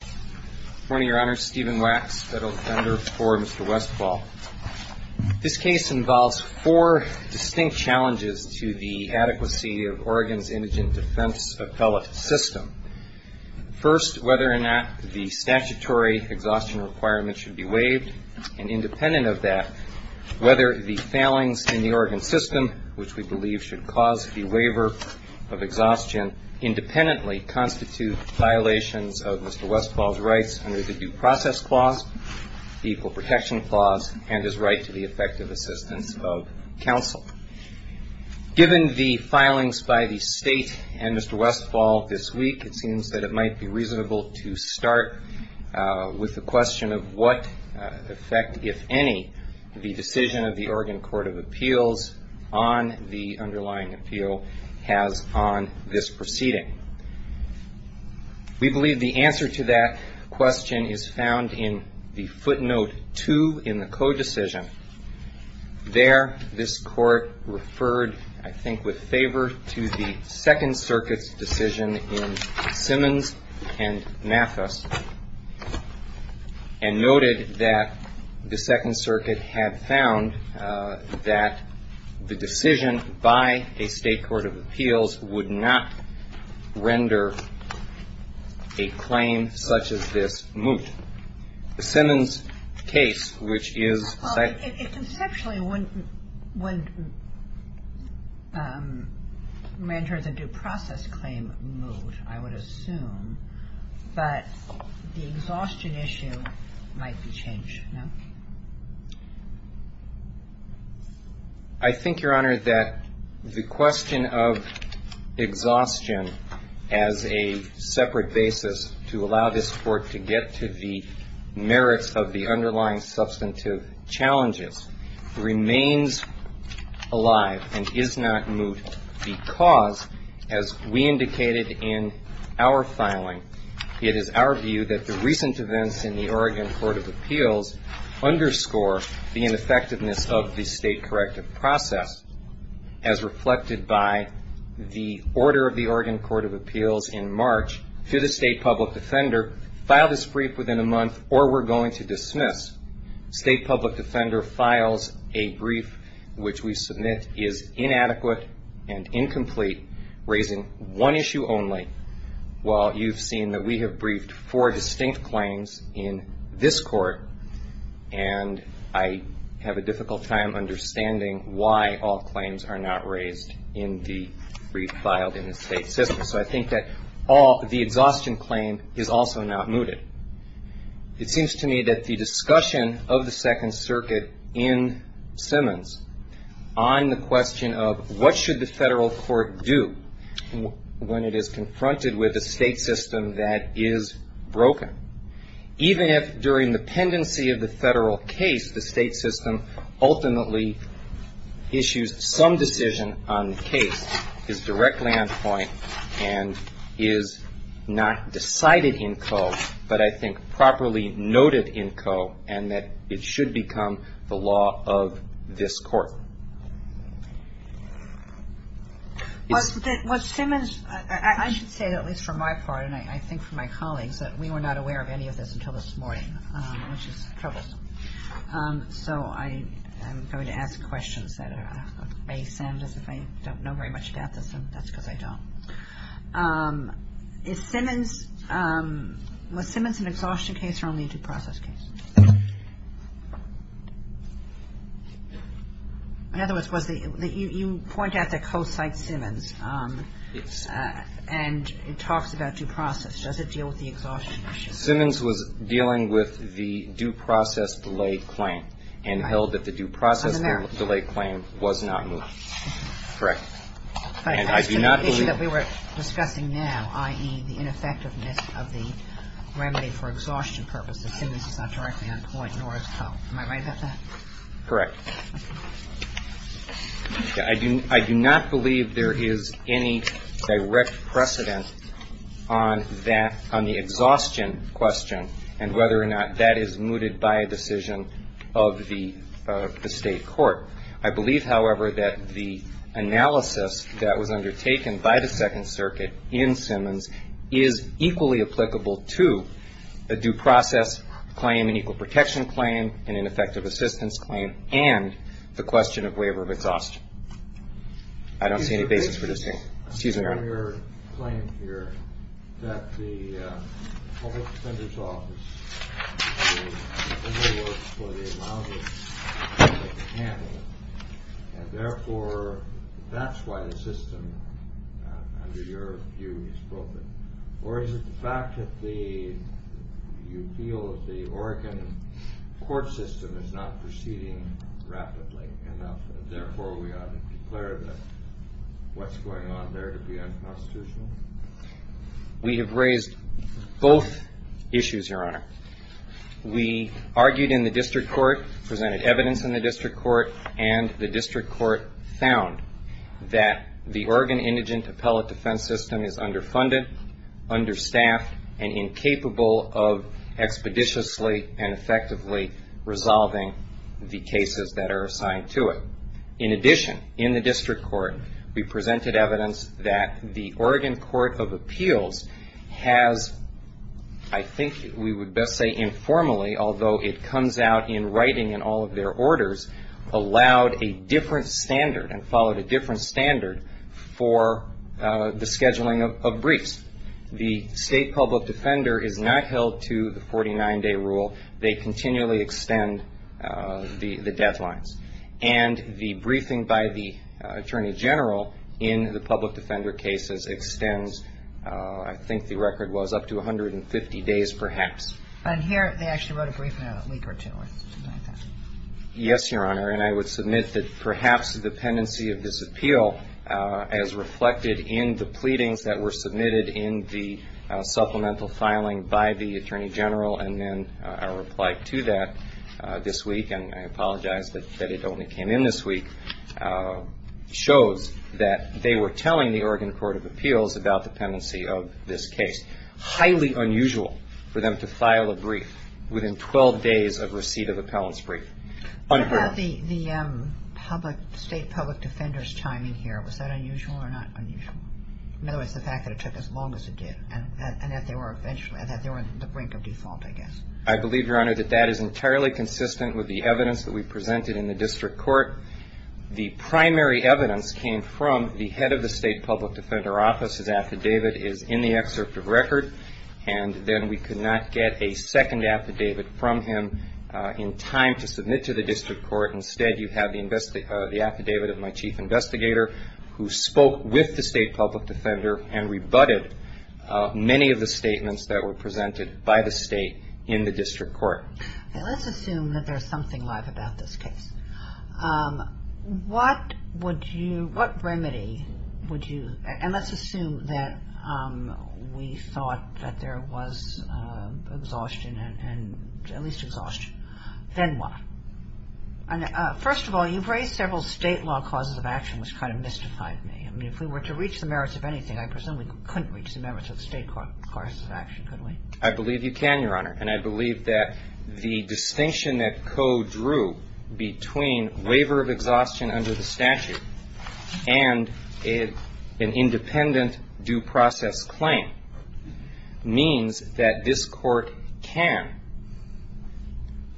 Good morning, Your Honor. Stephen Wax, federal defender for Mr. Westfall. This case involves four distinct challenges to the adequacy of Oregon's indigent defense appellate system. First, whether or not the statutory exhaustion requirement should be waived, and independent of that, whether the failings in the Oregon system, which we believe should cause the waiver of exhaustion, independently constitute violations of Mr. Westfall's rights under the Due Process Clause, the Equal Protection Clause, and his right to the effective assistance of counsel. Given the filings by the state and Mr. Westfall this week, it seems that it might be reasonable to start with the question of what effect, if any, the decision of the Oregon Court of Appeals on the underlying appeal has on this proceeding. We believe the answer to that question is found in the footnote 2 in the Code Decision. There, this Court referred, I think, with favor to the Second Circuit's decision in Simmons and Mathis, and noted that the Second Circuit had found that the decision by a State Court of Appeals would not render a claim such as this moot. The Simmons case, which is the second one. I think, Your Honor, that the question of exhaustion as a separate basis to allow this Court to get to the merits of the underlying substantive challenges remains a question that we have to address. It remains alive and is not moot because, as we indicated in our filing, it is our view that the recent events in the Oregon Court of Appeals underscore the ineffectiveness of the state corrective process as reflected by the order of the Oregon Court of Appeals in March to the state public defender, file this brief within a month or we're going to dismiss. State public defender files a brief, which we submit is inadequate and incomplete, raising one issue only. Well, you've seen that we have briefed four distinct claims in this Court, and I have a difficult time understanding why all claims are not raised in the brief filed in the state system. So I think that the exhaustion claim is also not mooted. It seems to me that the discussion of the Second Circuit in Simmons on the question of what should the federal court do when it is confronted with a state system that is broken, even if during the pendency of the federal case the state system ultimately issues some decision on the case, is directly on point and is not decided in code, but I think properly noted in code, and that it should become the law of this Court. Well, Simmons, I should say, at least from my part, and I think from my colleagues, that we were not aware of any of this until this morning, which is troublesome. So I am going to ask questions that may sound as if I don't know very much about this, and that's because I don't. Is Simmons – was Simmons an exhaustion case or only a due process case? In other words, was the – you point out that Coe cites Simmons. Yes. And it talks about due process. Does it deal with the exhaustion issue? Simmons was dealing with the due process delay claim and held that the due process delay claim was not moved. Correct. And I do not believe – But it's an issue that we were discussing now, i.e., the ineffectiveness of the remedy for exhaustion purposes. Simmons is not directly on point, nor is Coe. Am I right about that? Correct. I do not believe there is any direct precedent on that – on the exhaustion question and whether or not that is mooted by a decision of the state court. I believe, however, that the analysis that was undertaken by the Second Circuit in Simmons is equally applicable to a due process claim, an equal protection claim, an ineffective assistance claim, and the question of waiver of exhaustion. I don't see any basis for disagreeing. Excuse me, Your Honor. There is a prior claim here that the Public Defender's Office should do more work for the amount of time it can handle, and therefore that's why the system, under your view, is broken. Or is it the fact that you feel that the Oregon court system is not proceeding rapidly enough, and therefore we ought to be clear about what's going on there to be unconstitutional? We have raised both issues, Your Honor. We argued in the district court, presented evidence in the district court, and the district court found that the Oregon indigent appellate defense system is underfunded, understaffed, and incapable of expeditiously and effectively resolving the cases that are assigned to it. In addition, in the district court, we presented evidence that the Oregon Court of Appeals has, I think we would best say informally, although it comes out in writing in all of their orders, allowed a different standard and followed a different standard for the scheduling of briefs. The State Public Defender is not held to the 49-day rule. They continually extend the deadlines. And the briefing by the Attorney General in the public defender cases extends, I think the record was, up to 150 days perhaps. And here they actually wrote a brief in a week or two or something like that. Yes, Your Honor. And I would submit that perhaps the dependency of this appeal, as reflected in the pleadings that were submitted in the supplemental filing by the Attorney General, and then our reply to that this week, and I apologize that it only came in this week, shows that they were telling the Oregon Court of Appeals about the dependency of this case. Highly unusual for them to file a brief within 12 days of receipt of appellant's brief. Unheard. What about the State Public Defender's time in here? Was that unusual or not unusual? In other words, the fact that it took as long as it did, and that they were in the brink of default, I guess. I believe, Your Honor, that that is entirely consistent with the evidence that we presented in the district court. The primary evidence came from the head of the State Public Defender Office. His affidavit is in the excerpt of record. And then we could not get a second affidavit from him in time to submit to the district court. Instead, you have the affidavit of my chief investigator, who spoke with the State Public Defender and rebutted many of the statements that were presented by the State in the district court. Let's assume that there's something live about this case. What would you, what remedy would you, and let's assume that we thought that there was exhaustion, at least exhaustion. Then what? First of all, you've raised several state law causes of action, which kind of mystified me. I mean, if we were to reach the merits of anything, I presume we couldn't reach the merits of state causes of action, could we? I believe you can, Your Honor. And I believe that the distinction that Coe drew between waiver of exhaustion under the statute and an independent due process claim means that this court can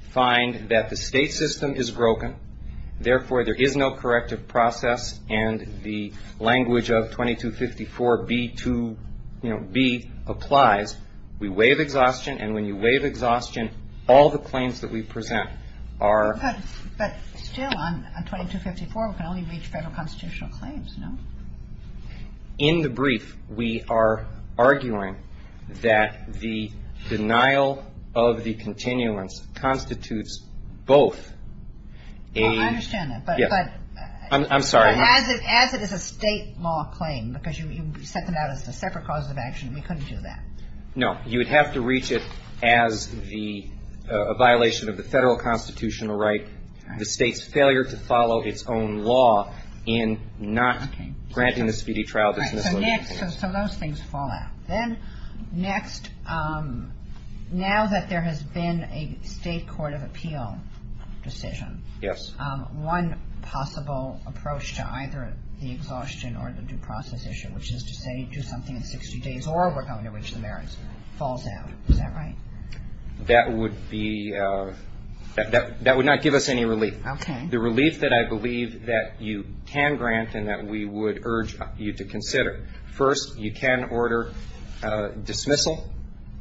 find that the state system is broken. Therefore, there is no corrective process. And the language of 2254B2, you know, B applies. We waive exhaustion. And when you waive exhaustion, all the claims that we present are. But still, on 2254, we can only reach federal constitutional claims, no? In the brief, we are arguing that the denial of the continuance constitutes both a... Well, I understand that. But... I'm sorry. As it is a state law claim, because you set them out as the separate causes of action, we couldn't do that. No. You would have to reach it as the violation of the federal constitutional right, the state's failure to follow its own law in not granting the speedy trial dismissal. So those things fall out. Then next, now that there has been a state court of appeal decision. Yes. One possible approach to either the exhaustion or the due process issue, which is to say do something in 60 days or we're going to reach the merits, falls out. Is that right? That would be... That would not give us any relief. Okay. The relief that I believe that you can grant and that we would urge you to consider. First, you can order dismissal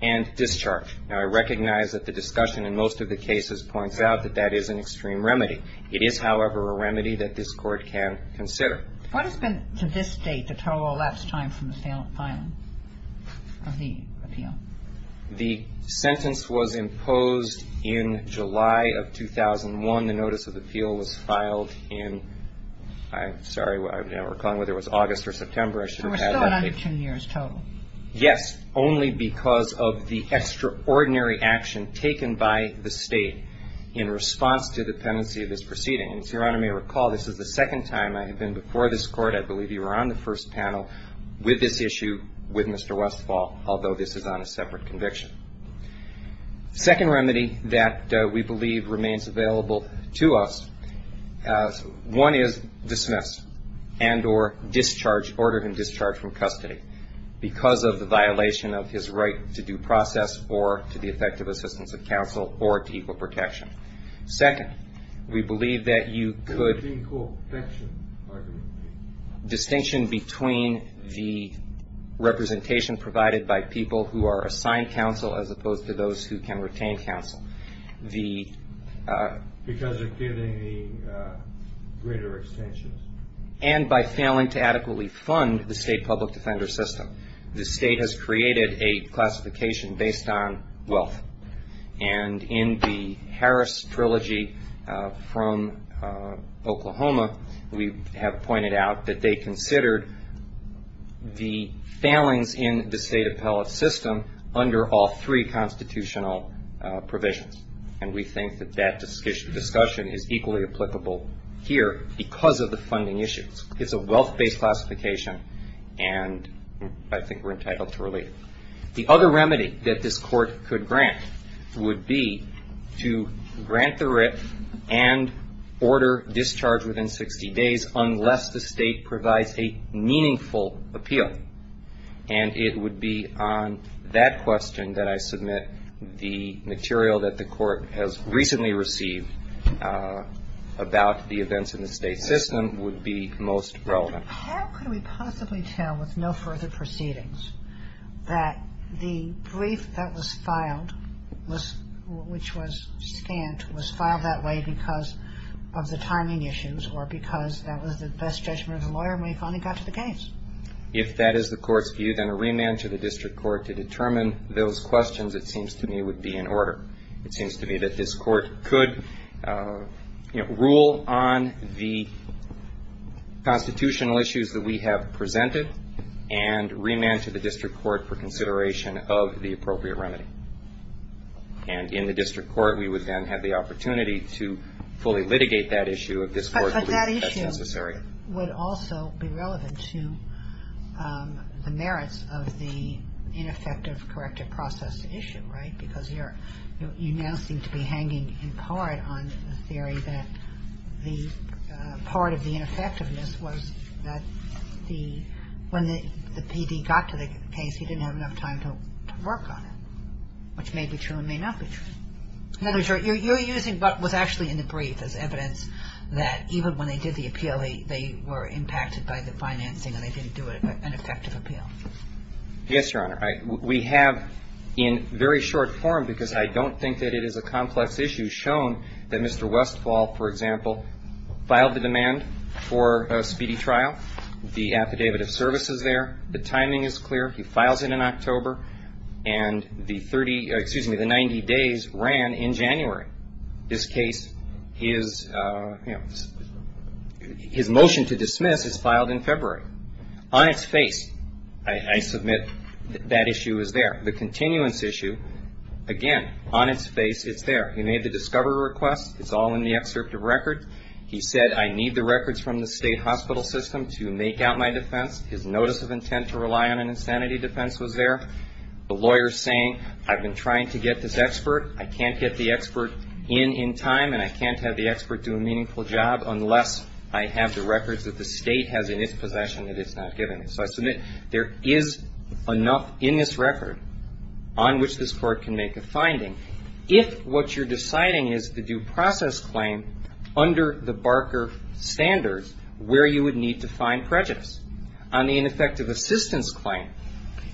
and discharge. Now, I recognize that the discussion in most of the cases points out that that is an extreme remedy. It is, however, a remedy that this Court can consider. What has been, to this date, the total elapsed time from the filing of the appeal? The sentence was imposed in July of 2001. The notice of appeal was filed in, I'm sorry, I'm not recalling whether it was August or September. We're still at under two years total. Yes. Only because of the extraordinary action taken by the state in response to the pendency of this proceeding. And as Your Honor may recall, this is the second time I have been before this Court. I believe you were on the first panel with this issue with Mr. Westphal, although this is on a separate conviction. The second remedy that we believe remains available to us, one is dismiss and or discharge, order him discharged from custody because of the violation of his right to due process or to the effective assistance of counsel or to equal protection. Second, we believe that you could distinction between the representation provided by people who are assigned counsel as opposed to those who can retain counsel. Because of giving the greater extensions. And by failing to adequately fund the state public defender system. The state has created a classification based on wealth. And in the Harris Trilogy from Oklahoma, we have pointed out that they considered the failings in the state appellate system under all three constitutional provisions. And we think that that discussion is equally applicable here because of the funding issues. It's a wealth-based classification, and I think we're entitled to relief. The other remedy that this Court could grant would be to grant the writ and order discharge within 60 days unless the state provides a meaningful appeal. And it would be on that question that I submit the material that the Court has recently received about the events in the state system would be most relevant. How could we possibly tell with no further proceedings that the brief that was filed was which was scanned was filed that way because of the timing issues or because that was the best judgment of the lawyer when he finally got to the case? If that is the Court's view, then a remand to the district court to determine those questions, it seems to me, would be in order. It seems to me that this Court could rule on the constitutional issues that we have presented and remand to the district court for consideration of the appropriate remedy. And in the district court, we would then have the opportunity to fully litigate that issue if this Court believes that's necessary. But that issue would also be relevant to the merits of the ineffective corrective process issue, right? Because you now seem to be hanging in part on the theory that the part of the ineffectiveness was that the when the PD got to the case, he didn't have enough time to work on it, which may be true and may not be true. You're using what was actually in the brief as evidence that even when they did the appeal, they were impacted by the financing and they didn't do an effective appeal. Yes, Your Honor. We have in very short form, because I don't think that it is a complex issue, shown that Mr. Westphal, for example, filed the demand for a speedy trial. The affidavit of service is there. The timing is clear. He files it in October. And the 30, excuse me, the 90 days ran in January. This case is, you know, his motion to dismiss is filed in February. On its face, I submit that issue is there. The continuance issue, again, on its face, it's there. He made the discovery request. It's all in the excerpt of record. He said, I need the records from the state hospital system to make out my defense. His notice of intent to rely on an insanity defense was there. The lawyer is saying, I've been trying to get this expert. I can't get the expert in, in time, and I can't have the expert do a meaningful job unless I have the records that the state has in its possession that it's not giving me. So I submit there is enough in this record on which this court can make a finding. If what you're deciding is the due process claim under the Barker standards, where you would need to find prejudice. On the ineffective assistance claim,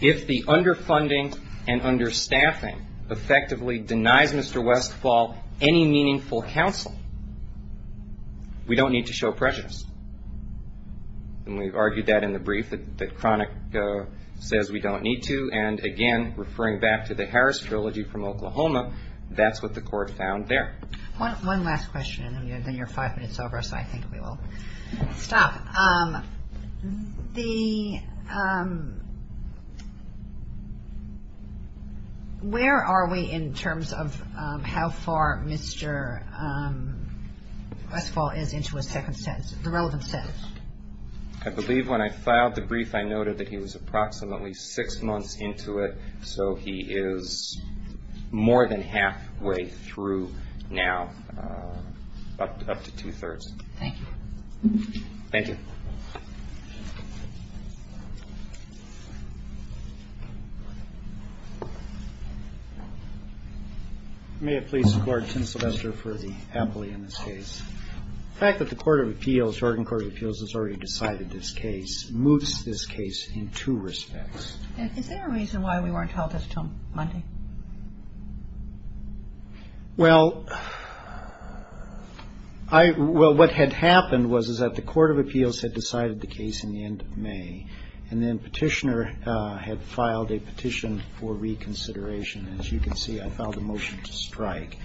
if the underfunding and understaffing effectively denies Mr. Westfall any meaningful counsel, we don't need to show prejudice. And we've argued that in the brief that Cronick says we don't need to. And, again, referring back to the Harris Trilogy from Oklahoma, that's what the court found there. One last question, and then you're five minutes over, so I think we will stop. The, where are we in terms of how far Mr. Westfall is into a second sentence, the relevant sentence? I believe when I filed the brief, I noted that he was approximately six months into it, so he is more than halfway through now, up to two-thirds. Thank you. Thank you. May it please the Court, Tim Sylvester for the appellee in this case. The fact that the Court of Appeals, Oregon Court of Appeals has already decided this case moves this case in two respects. Is there a reason why we weren't held until Monday? Well, I, well, what had happened was is that the Court of Appeals had decided the case in the end of May, and then Petitioner had filed a petition for reconsideration. As you can see, I filed a motion to strike.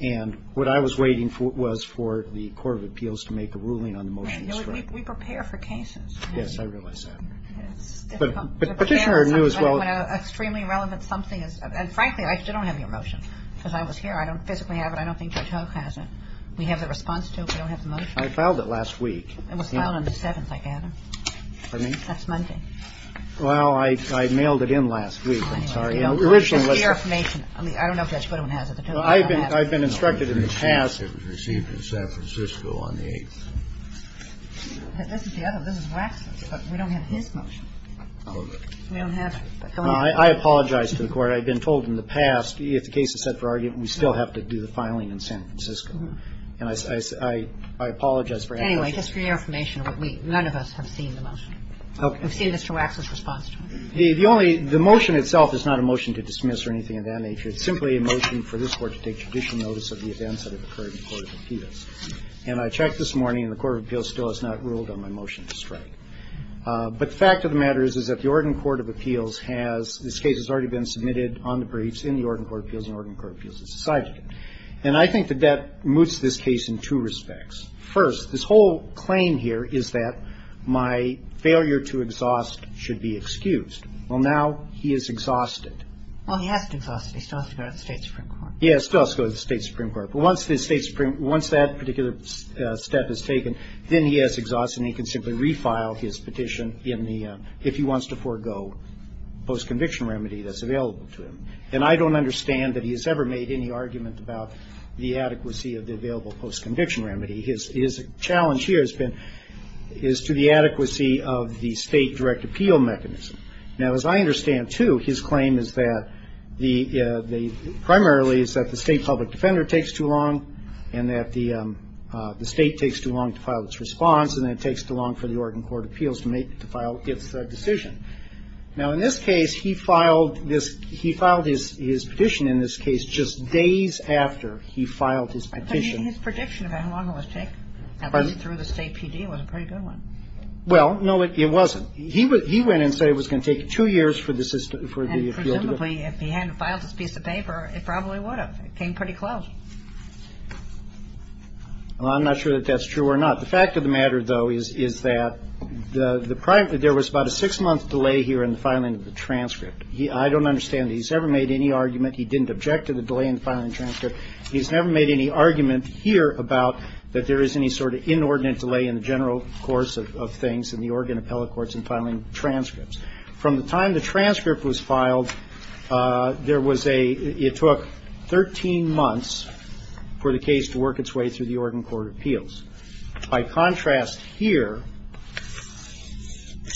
And what I was waiting for was for the Court of Appeals to make a ruling on the motion to strike. We prepare for cases. Yes, I realize that. But Petitioner knew as well. Well, I, I didn't, I didn't know that. This is a motion. I don't know when a extremely relevant something is. And frankly, I still don't have your motion because I was here. I don't physically have it. I don't think Judge Hook has it. We have the response to it. We don't have the motion. I filed it last week. It was filed on the seventh, I gather. Pardon me? That's Monday. Well, I had mailed it in last week. I'm sorry. Just for your information, I mean, I don't know if Judge Goodwin has it. I've been instructed in the past. It was received in San Francisco on the eighth. This is the other one. This is Waxman's. But we don't have his motion. We don't have it. I apologize to the Court. I've been told in the past, if the case is set for argument, we still have to do the filing in San Francisco. And I, I, I apologize for asking. Anyway, just for your information, none of us have seen the motion. Okay. We've seen Mr. Waxman's response to it. The only, the motion itself is not a motion to dismiss or anything of that nature. It's simply a motion for this Court to take judicial notice of the events that have occurred in the Court of Appeals. And I checked this morning, and the Court of Appeals still has not ruled on my motion to strike. But the fact of the matter is, is that the Oregon Court of Appeals has, this case has already been submitted on the briefs, in the Oregon Court of Appeals, and Oregon Court of Appeals has decided it. And I think that that moots this case in two respects. First, this whole claim here is that my failure to exhaust should be excused. Well, now he is exhausted. Well, he hasn't exhausted. He still has to go to the State Supreme Court. Yes, he still has to go to the State Supreme Court. But once the State Supreme, once that particular step is taken, then he has exhausted and he can simply refile his petition in the, if he wants to forego, post-conviction remedy that's available to him. And I don't understand that he has ever made any argument about the adequacy of the available post-conviction remedy. His challenge here has been, is to the adequacy of the State direct appeal mechanism. Now, as I understand, too, his claim is that the, primarily is that the State public defender takes too long, and that the State takes too long to file its response, and then it takes too long for the Oregon Court of Appeals to make, to file its decision. Now, in this case, he filed this, he filed his petition in this case just days after he filed his petition. But his prediction of how long it would take, at least through the State PD, was a pretty good one. Well, no, it wasn't. He went and said it was going to take two years for the system, for the appeal to go through. And presumably, if he hadn't filed this piece of paper, it probably would have. It came pretty close. Well, I'm not sure that that's true or not. The fact of the matter, though, is that the, there was about a six-month delay here in the filing of the transcript. I don't understand that he's ever made any argument, he didn't object to the delay in the filing of the transcript. He's never made any argument here about that there is any sort of inordinate delay in the general course of things in the Oregon appellate courts in filing transcripts. From the time the transcript was filed, there was a, it took 13 months for the case to work its way through the Oregon Court of Appeals. By contrast here,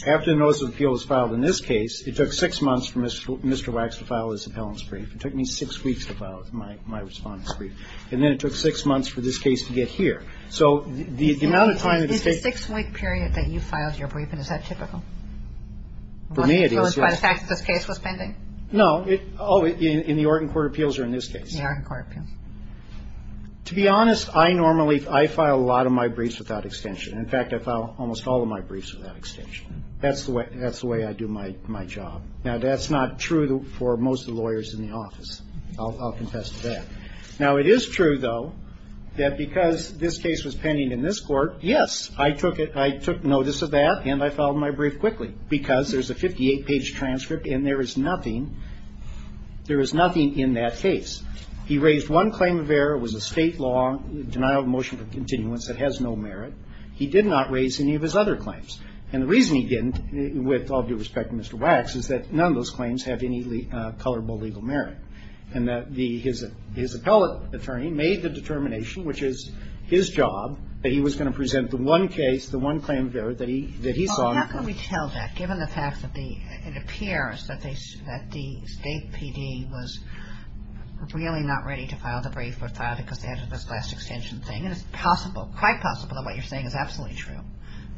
after the notice of appeal was filed in this case, it took six months for Mr. Wax to file his appellant's brief. It took me six weeks to file my respondent's brief. And then it took six months for this case to get here. So the amount of time that it takes. It's a six-week period that you filed your brief, and is that typical? For me, it is. By the fact that this case was pending? No. Oh, in the Oregon Court of Appeals or in this case? The Oregon Court of Appeals. To be honest, I normally, I file a lot of my briefs without extension. In fact, I file almost all of my briefs without extension. That's the way I do my job. Now, that's not true for most of the lawyers in the office. I'll confess to that. Now, it is true, though, that because this case was pending in this court, yes, I took it, I took notice of that, and I filed my brief quickly. Because there's a 58-page transcript, and there is nothing, there is nothing in that case. He raised one claim of error. It was a state law, denial of motion for continuance, that has no merit. He did not raise any of his other claims. And the reason he didn't, with all due respect to Mr. Wax, is that none of those claims have any colorable legal merit. And that his appellate attorney made the determination, which is his job, that he was going to present the one case, the one claim of error that he saw. Well, how can we tell that, given the fact that the, it appears that the state PD was really not ready to file the brief or file it because they had this last extension thing? And it's possible, quite possible that what you're saying is absolutely true.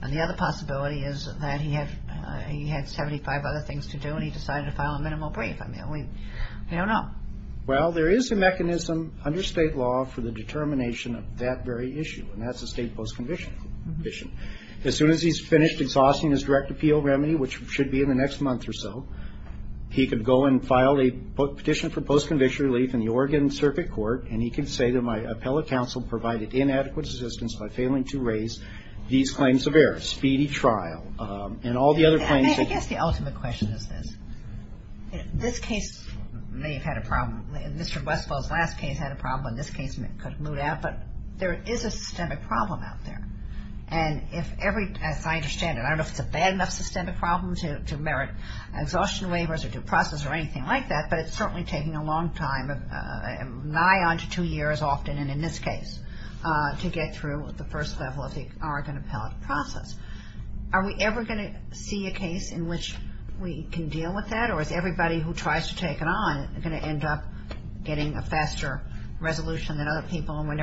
And the other possibility is that he had 75 other things to do, and he decided to file a minimal brief. I mean, we don't know. Well, there is a mechanism under state law for the determination of that very issue, and that's a state post-conviction issue. As soon as he's finished exhausting his direct appeal remedy, which should be in the next month or so, he could go and file a petition for post-conviction relief in the Oregon Circuit Court, and he could say that my appellate counsel provided inadequate assistance by failing to raise these claims of error. Speedy trial. And all the other claims. I mean, I guess the ultimate question is this. This case may have had a problem. Mr. Westphal's last case had a problem. This case could have moved out. But there is a systemic problem out there. And if every, as I understand it, I don't know if it's a bad enough systemic problem to merit exhaustion waivers or due process or anything like that, but it's certainly taking a long time, nigh on to two years often, and in this case, to get through the first level of the Oregon appellate process. Are we ever going to see a case in which we can deal with that, or is everybody who tries to take it on going to end up getting a faster resolution than other people, and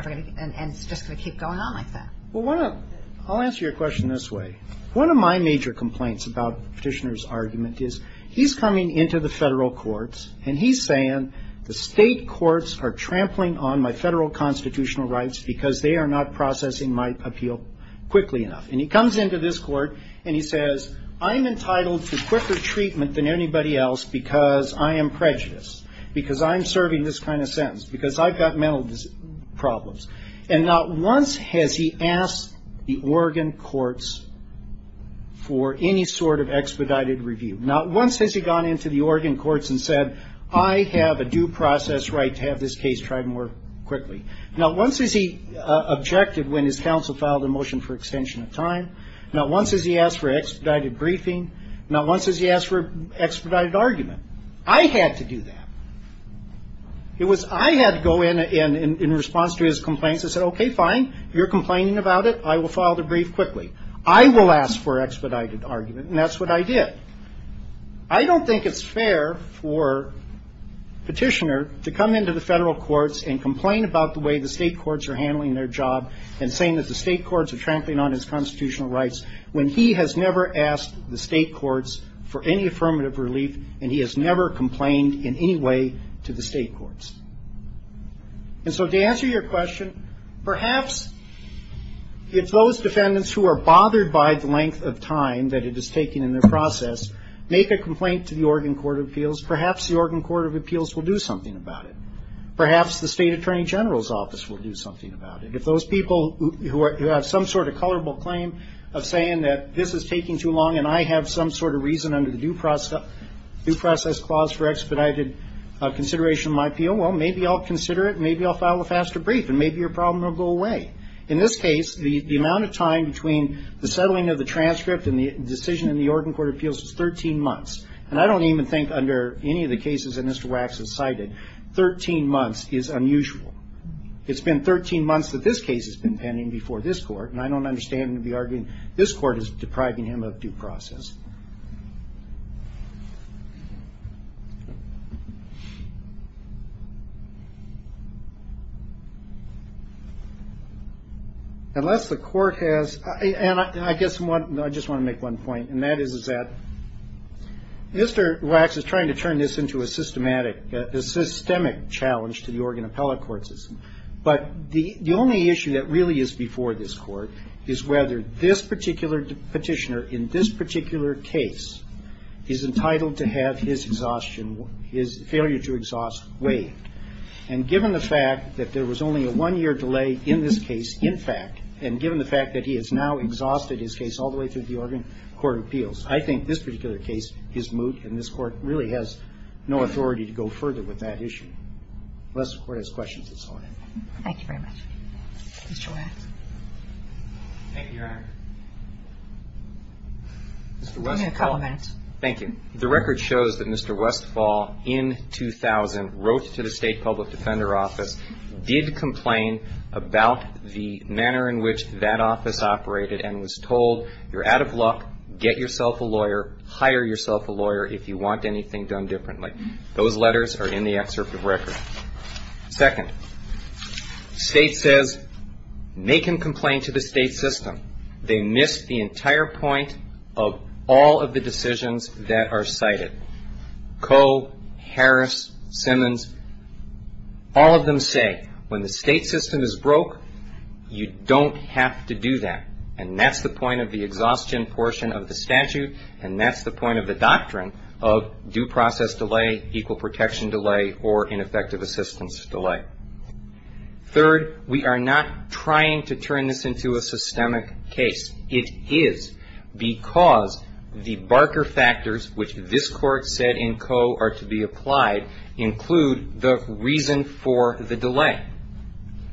it's just going to keep going on like that? Well, I'll answer your question this way. One of my major complaints about Petitioner's argument is he's coming into the federal courts and he's saying the state courts are trampling on my federal constitutional rights because they are not processing my appeal quickly enough. And he comes into this court and he says, I'm entitled to quicker treatment than anybody else because I am prejudiced, because I'm serving this kind of sentence, because I've got mental problems. And not once has he asked the Oregon courts for any sort of expedited review. Not once has he gone into the Oregon courts and said, I have a due process right to have this case tried more quickly. Not once has he objected when his counsel filed a motion for extension of time. Not once has he asked for expedited briefing. Not once has he asked for expedited argument. I had to do that. I had to go in in response to his complaints and say, okay, fine. You're complaining about it. I will file the brief quickly. I will ask for expedited argument. And that's what I did. I don't think it's fair for Petitioner to come into the federal courts and complain about the way the state courts are handling their job and saying that the state courts are trampling on his constitutional rights when he has never asked the state courts for any affirmative relief and he has never complained in any way to the state courts. And so to answer your question, perhaps if those defendants who are bothered by the length of time that it is taking in their process make a complaint to the Oregon Court of Appeals, perhaps the Oregon Court of Appeals will do something about it. Perhaps the State Attorney General's Office will do something about it. If those people who have some sort of colorable claim of saying that this is taking too long and I have some sort of reason under the due process clause for expedited consideration of my appeal, well, maybe I'll consider it, maybe I'll file a faster brief, and maybe your problem will go away. In this case, the amount of time between the settling of the transcript and the decision in the Oregon Court of Appeals was 13 months. And I don't even think under any of the cases that Mr. Wax has cited, 13 months is unusual. It's been 13 months that this case has been pending before this Court, and I don't understand him to be arguing this Court is depriving him of due process. Unless the Court has, and I guess I just want to make one point, and that is that Mr. Wax is trying to turn this into a systematic, a systemic challenge to the Oregon appellate court system. But the only issue that really is before this Court is whether this particular petitioner in this particular case is entitled to have his exhaustion, his failure to exhaust, waived. And given the fact that there was only a one-year delay in this case, in fact, and given the fact that he has now exhausted his case all the way through the Oregon Court of Appeals, I think this particular case is moot, and this Court really has no authority to go further with that issue. Unless the Court has questions, that's all I have. Thank you very much. Mr. Wax. Thank you, Your Honor. Mr. Westphal. Give me a couple minutes. Thank you. The record shows that Mr. Westphal, in 2000, wrote to the State Public Defender Office, did complain about the manner in which that office operated, and was told, you're out of luck, get yourself a lawyer, hire yourself a lawyer if you want anything done differently. Those letters are in the excerpt of the record. Second, State says, make him complain to the State system. They missed the entire point of all of the decisions that are cited. Coe, Harris, Simmons, all of them say, when the State system is broke, you don't have to do that. And that's the point of the exhaustion portion of the statute, and that's the point of the doctrine of due process delay, equal protection delay, or ineffective assistance delay. Third, we are not trying to turn this into a systemic case. It is because the Barker factors, which this Court said in Coe are to be applied, include the reason for the delay.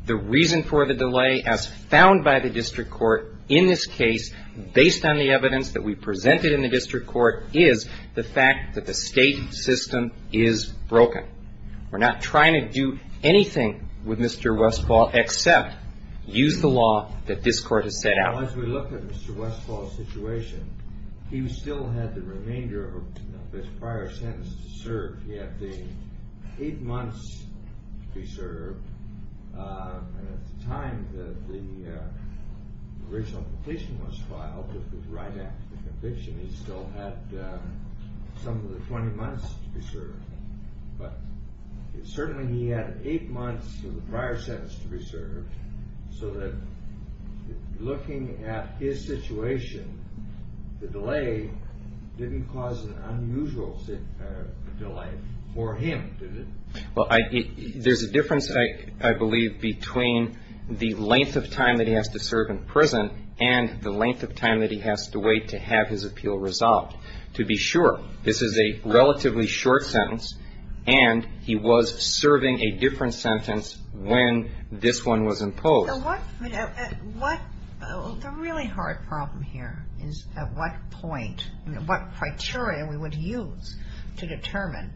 The reason for the delay, as found by the district court in this case, based on the evidence that we presented in the district court, is the fact that the State system is broken. We're not trying to do anything with Mr. Westphal except use the law that this Court has set out. As we look at Mr. Westphal's situation, he still had the remainder of his prior sentence to serve. He had the eight months to be served, and at the time that the original petition was filed, which was right after the conviction, he still had some of the 20 months to be served. But certainly he had eight months of the prior sentence to be served, so that looking at his situation, the delay didn't cause an unusual delay for him, did it? Well, there's a difference, I believe, between the length of time that he has to serve in prison and the length of time that he has to wait to have his appeal resolved. This is a relatively short sentence, and he was serving a different sentence when this one was imposed. The really hard problem here is at what point, what criteria we would use to determine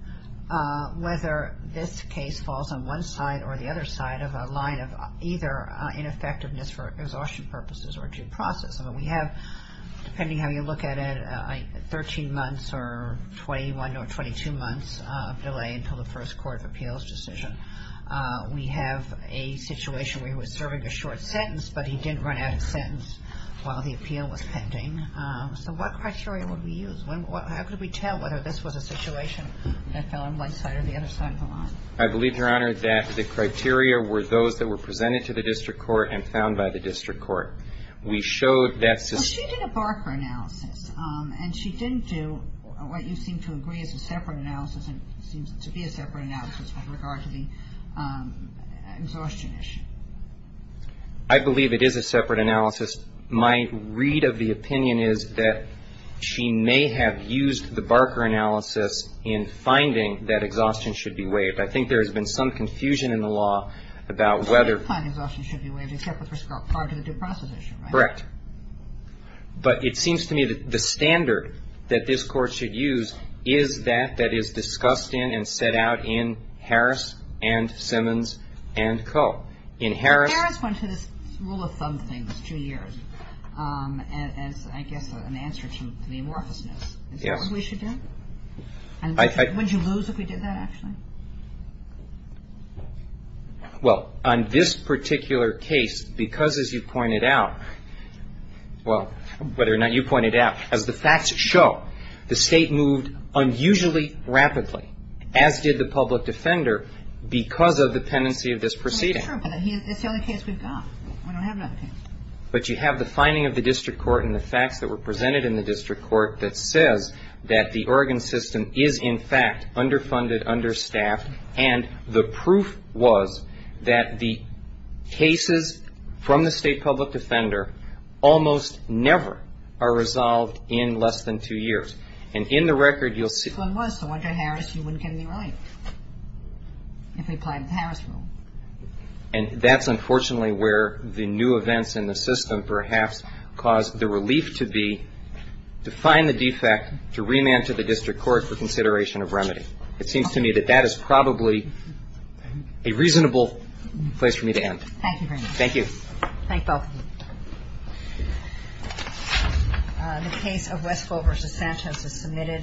whether this case falls on one side or the other side of a line of either ineffectiveness for exhaustion purposes or due process. We have, depending how you look at it, 13 months or 21 or 22 months of delay until the first court of appeals decision. We have a situation where he was serving a short sentence, but he didn't run out of sentence while the appeal was pending. So what criteria would we use? How could we tell whether this was a situation that fell on one side or the other side of the line? I believe, Your Honor, that the criteria were those that were presented to the district court and found by the district court. We showed that the ---- But she did a Barker analysis, and she didn't do what you seem to agree is a separate analysis and seems to be a separate analysis with regard to the exhaustion issue. I believe it is a separate analysis. My read of the opinion is that she may have used the Barker analysis in finding that exhaustion should be waived. I think there has been some confusion in the law about whether ---- Correct. But it seems to me that the standard that this Court should use is that that is discussed in and set out in Harris and Simmons and Koh. In Harris ---- Harris went to this rule of thumb thing for two years as, I guess, an answer to the amorphousness. Yes. Is that what we should do? Would you lose if we did that, actually? Well, on this particular case, because, as you pointed out ---- well, whether or not you pointed out, as the facts show, the State moved unusually rapidly, as did the public defender, because of the tendency of this proceeding. That's true, but it's the only case we've got. We don't have another case. But you have the finding of the district court and the facts that were presented in the district court that says that the Oregon system is, in fact, underfunded, understaffed, and the proof was that the cases from the State public defender almost never are resolved in less than two years. And in the record, you'll see ---- So it was. So under Harris, you wouldn't get any relief if they applied the Harris rule. And that's, unfortunately, where the new events in the system perhaps caused the relief to be to find the defect, to remand to the district court for consideration of remedy. It seems to me that that is probably a reasonable place for me to end. Thank you very much. Thank you. Thank both of you.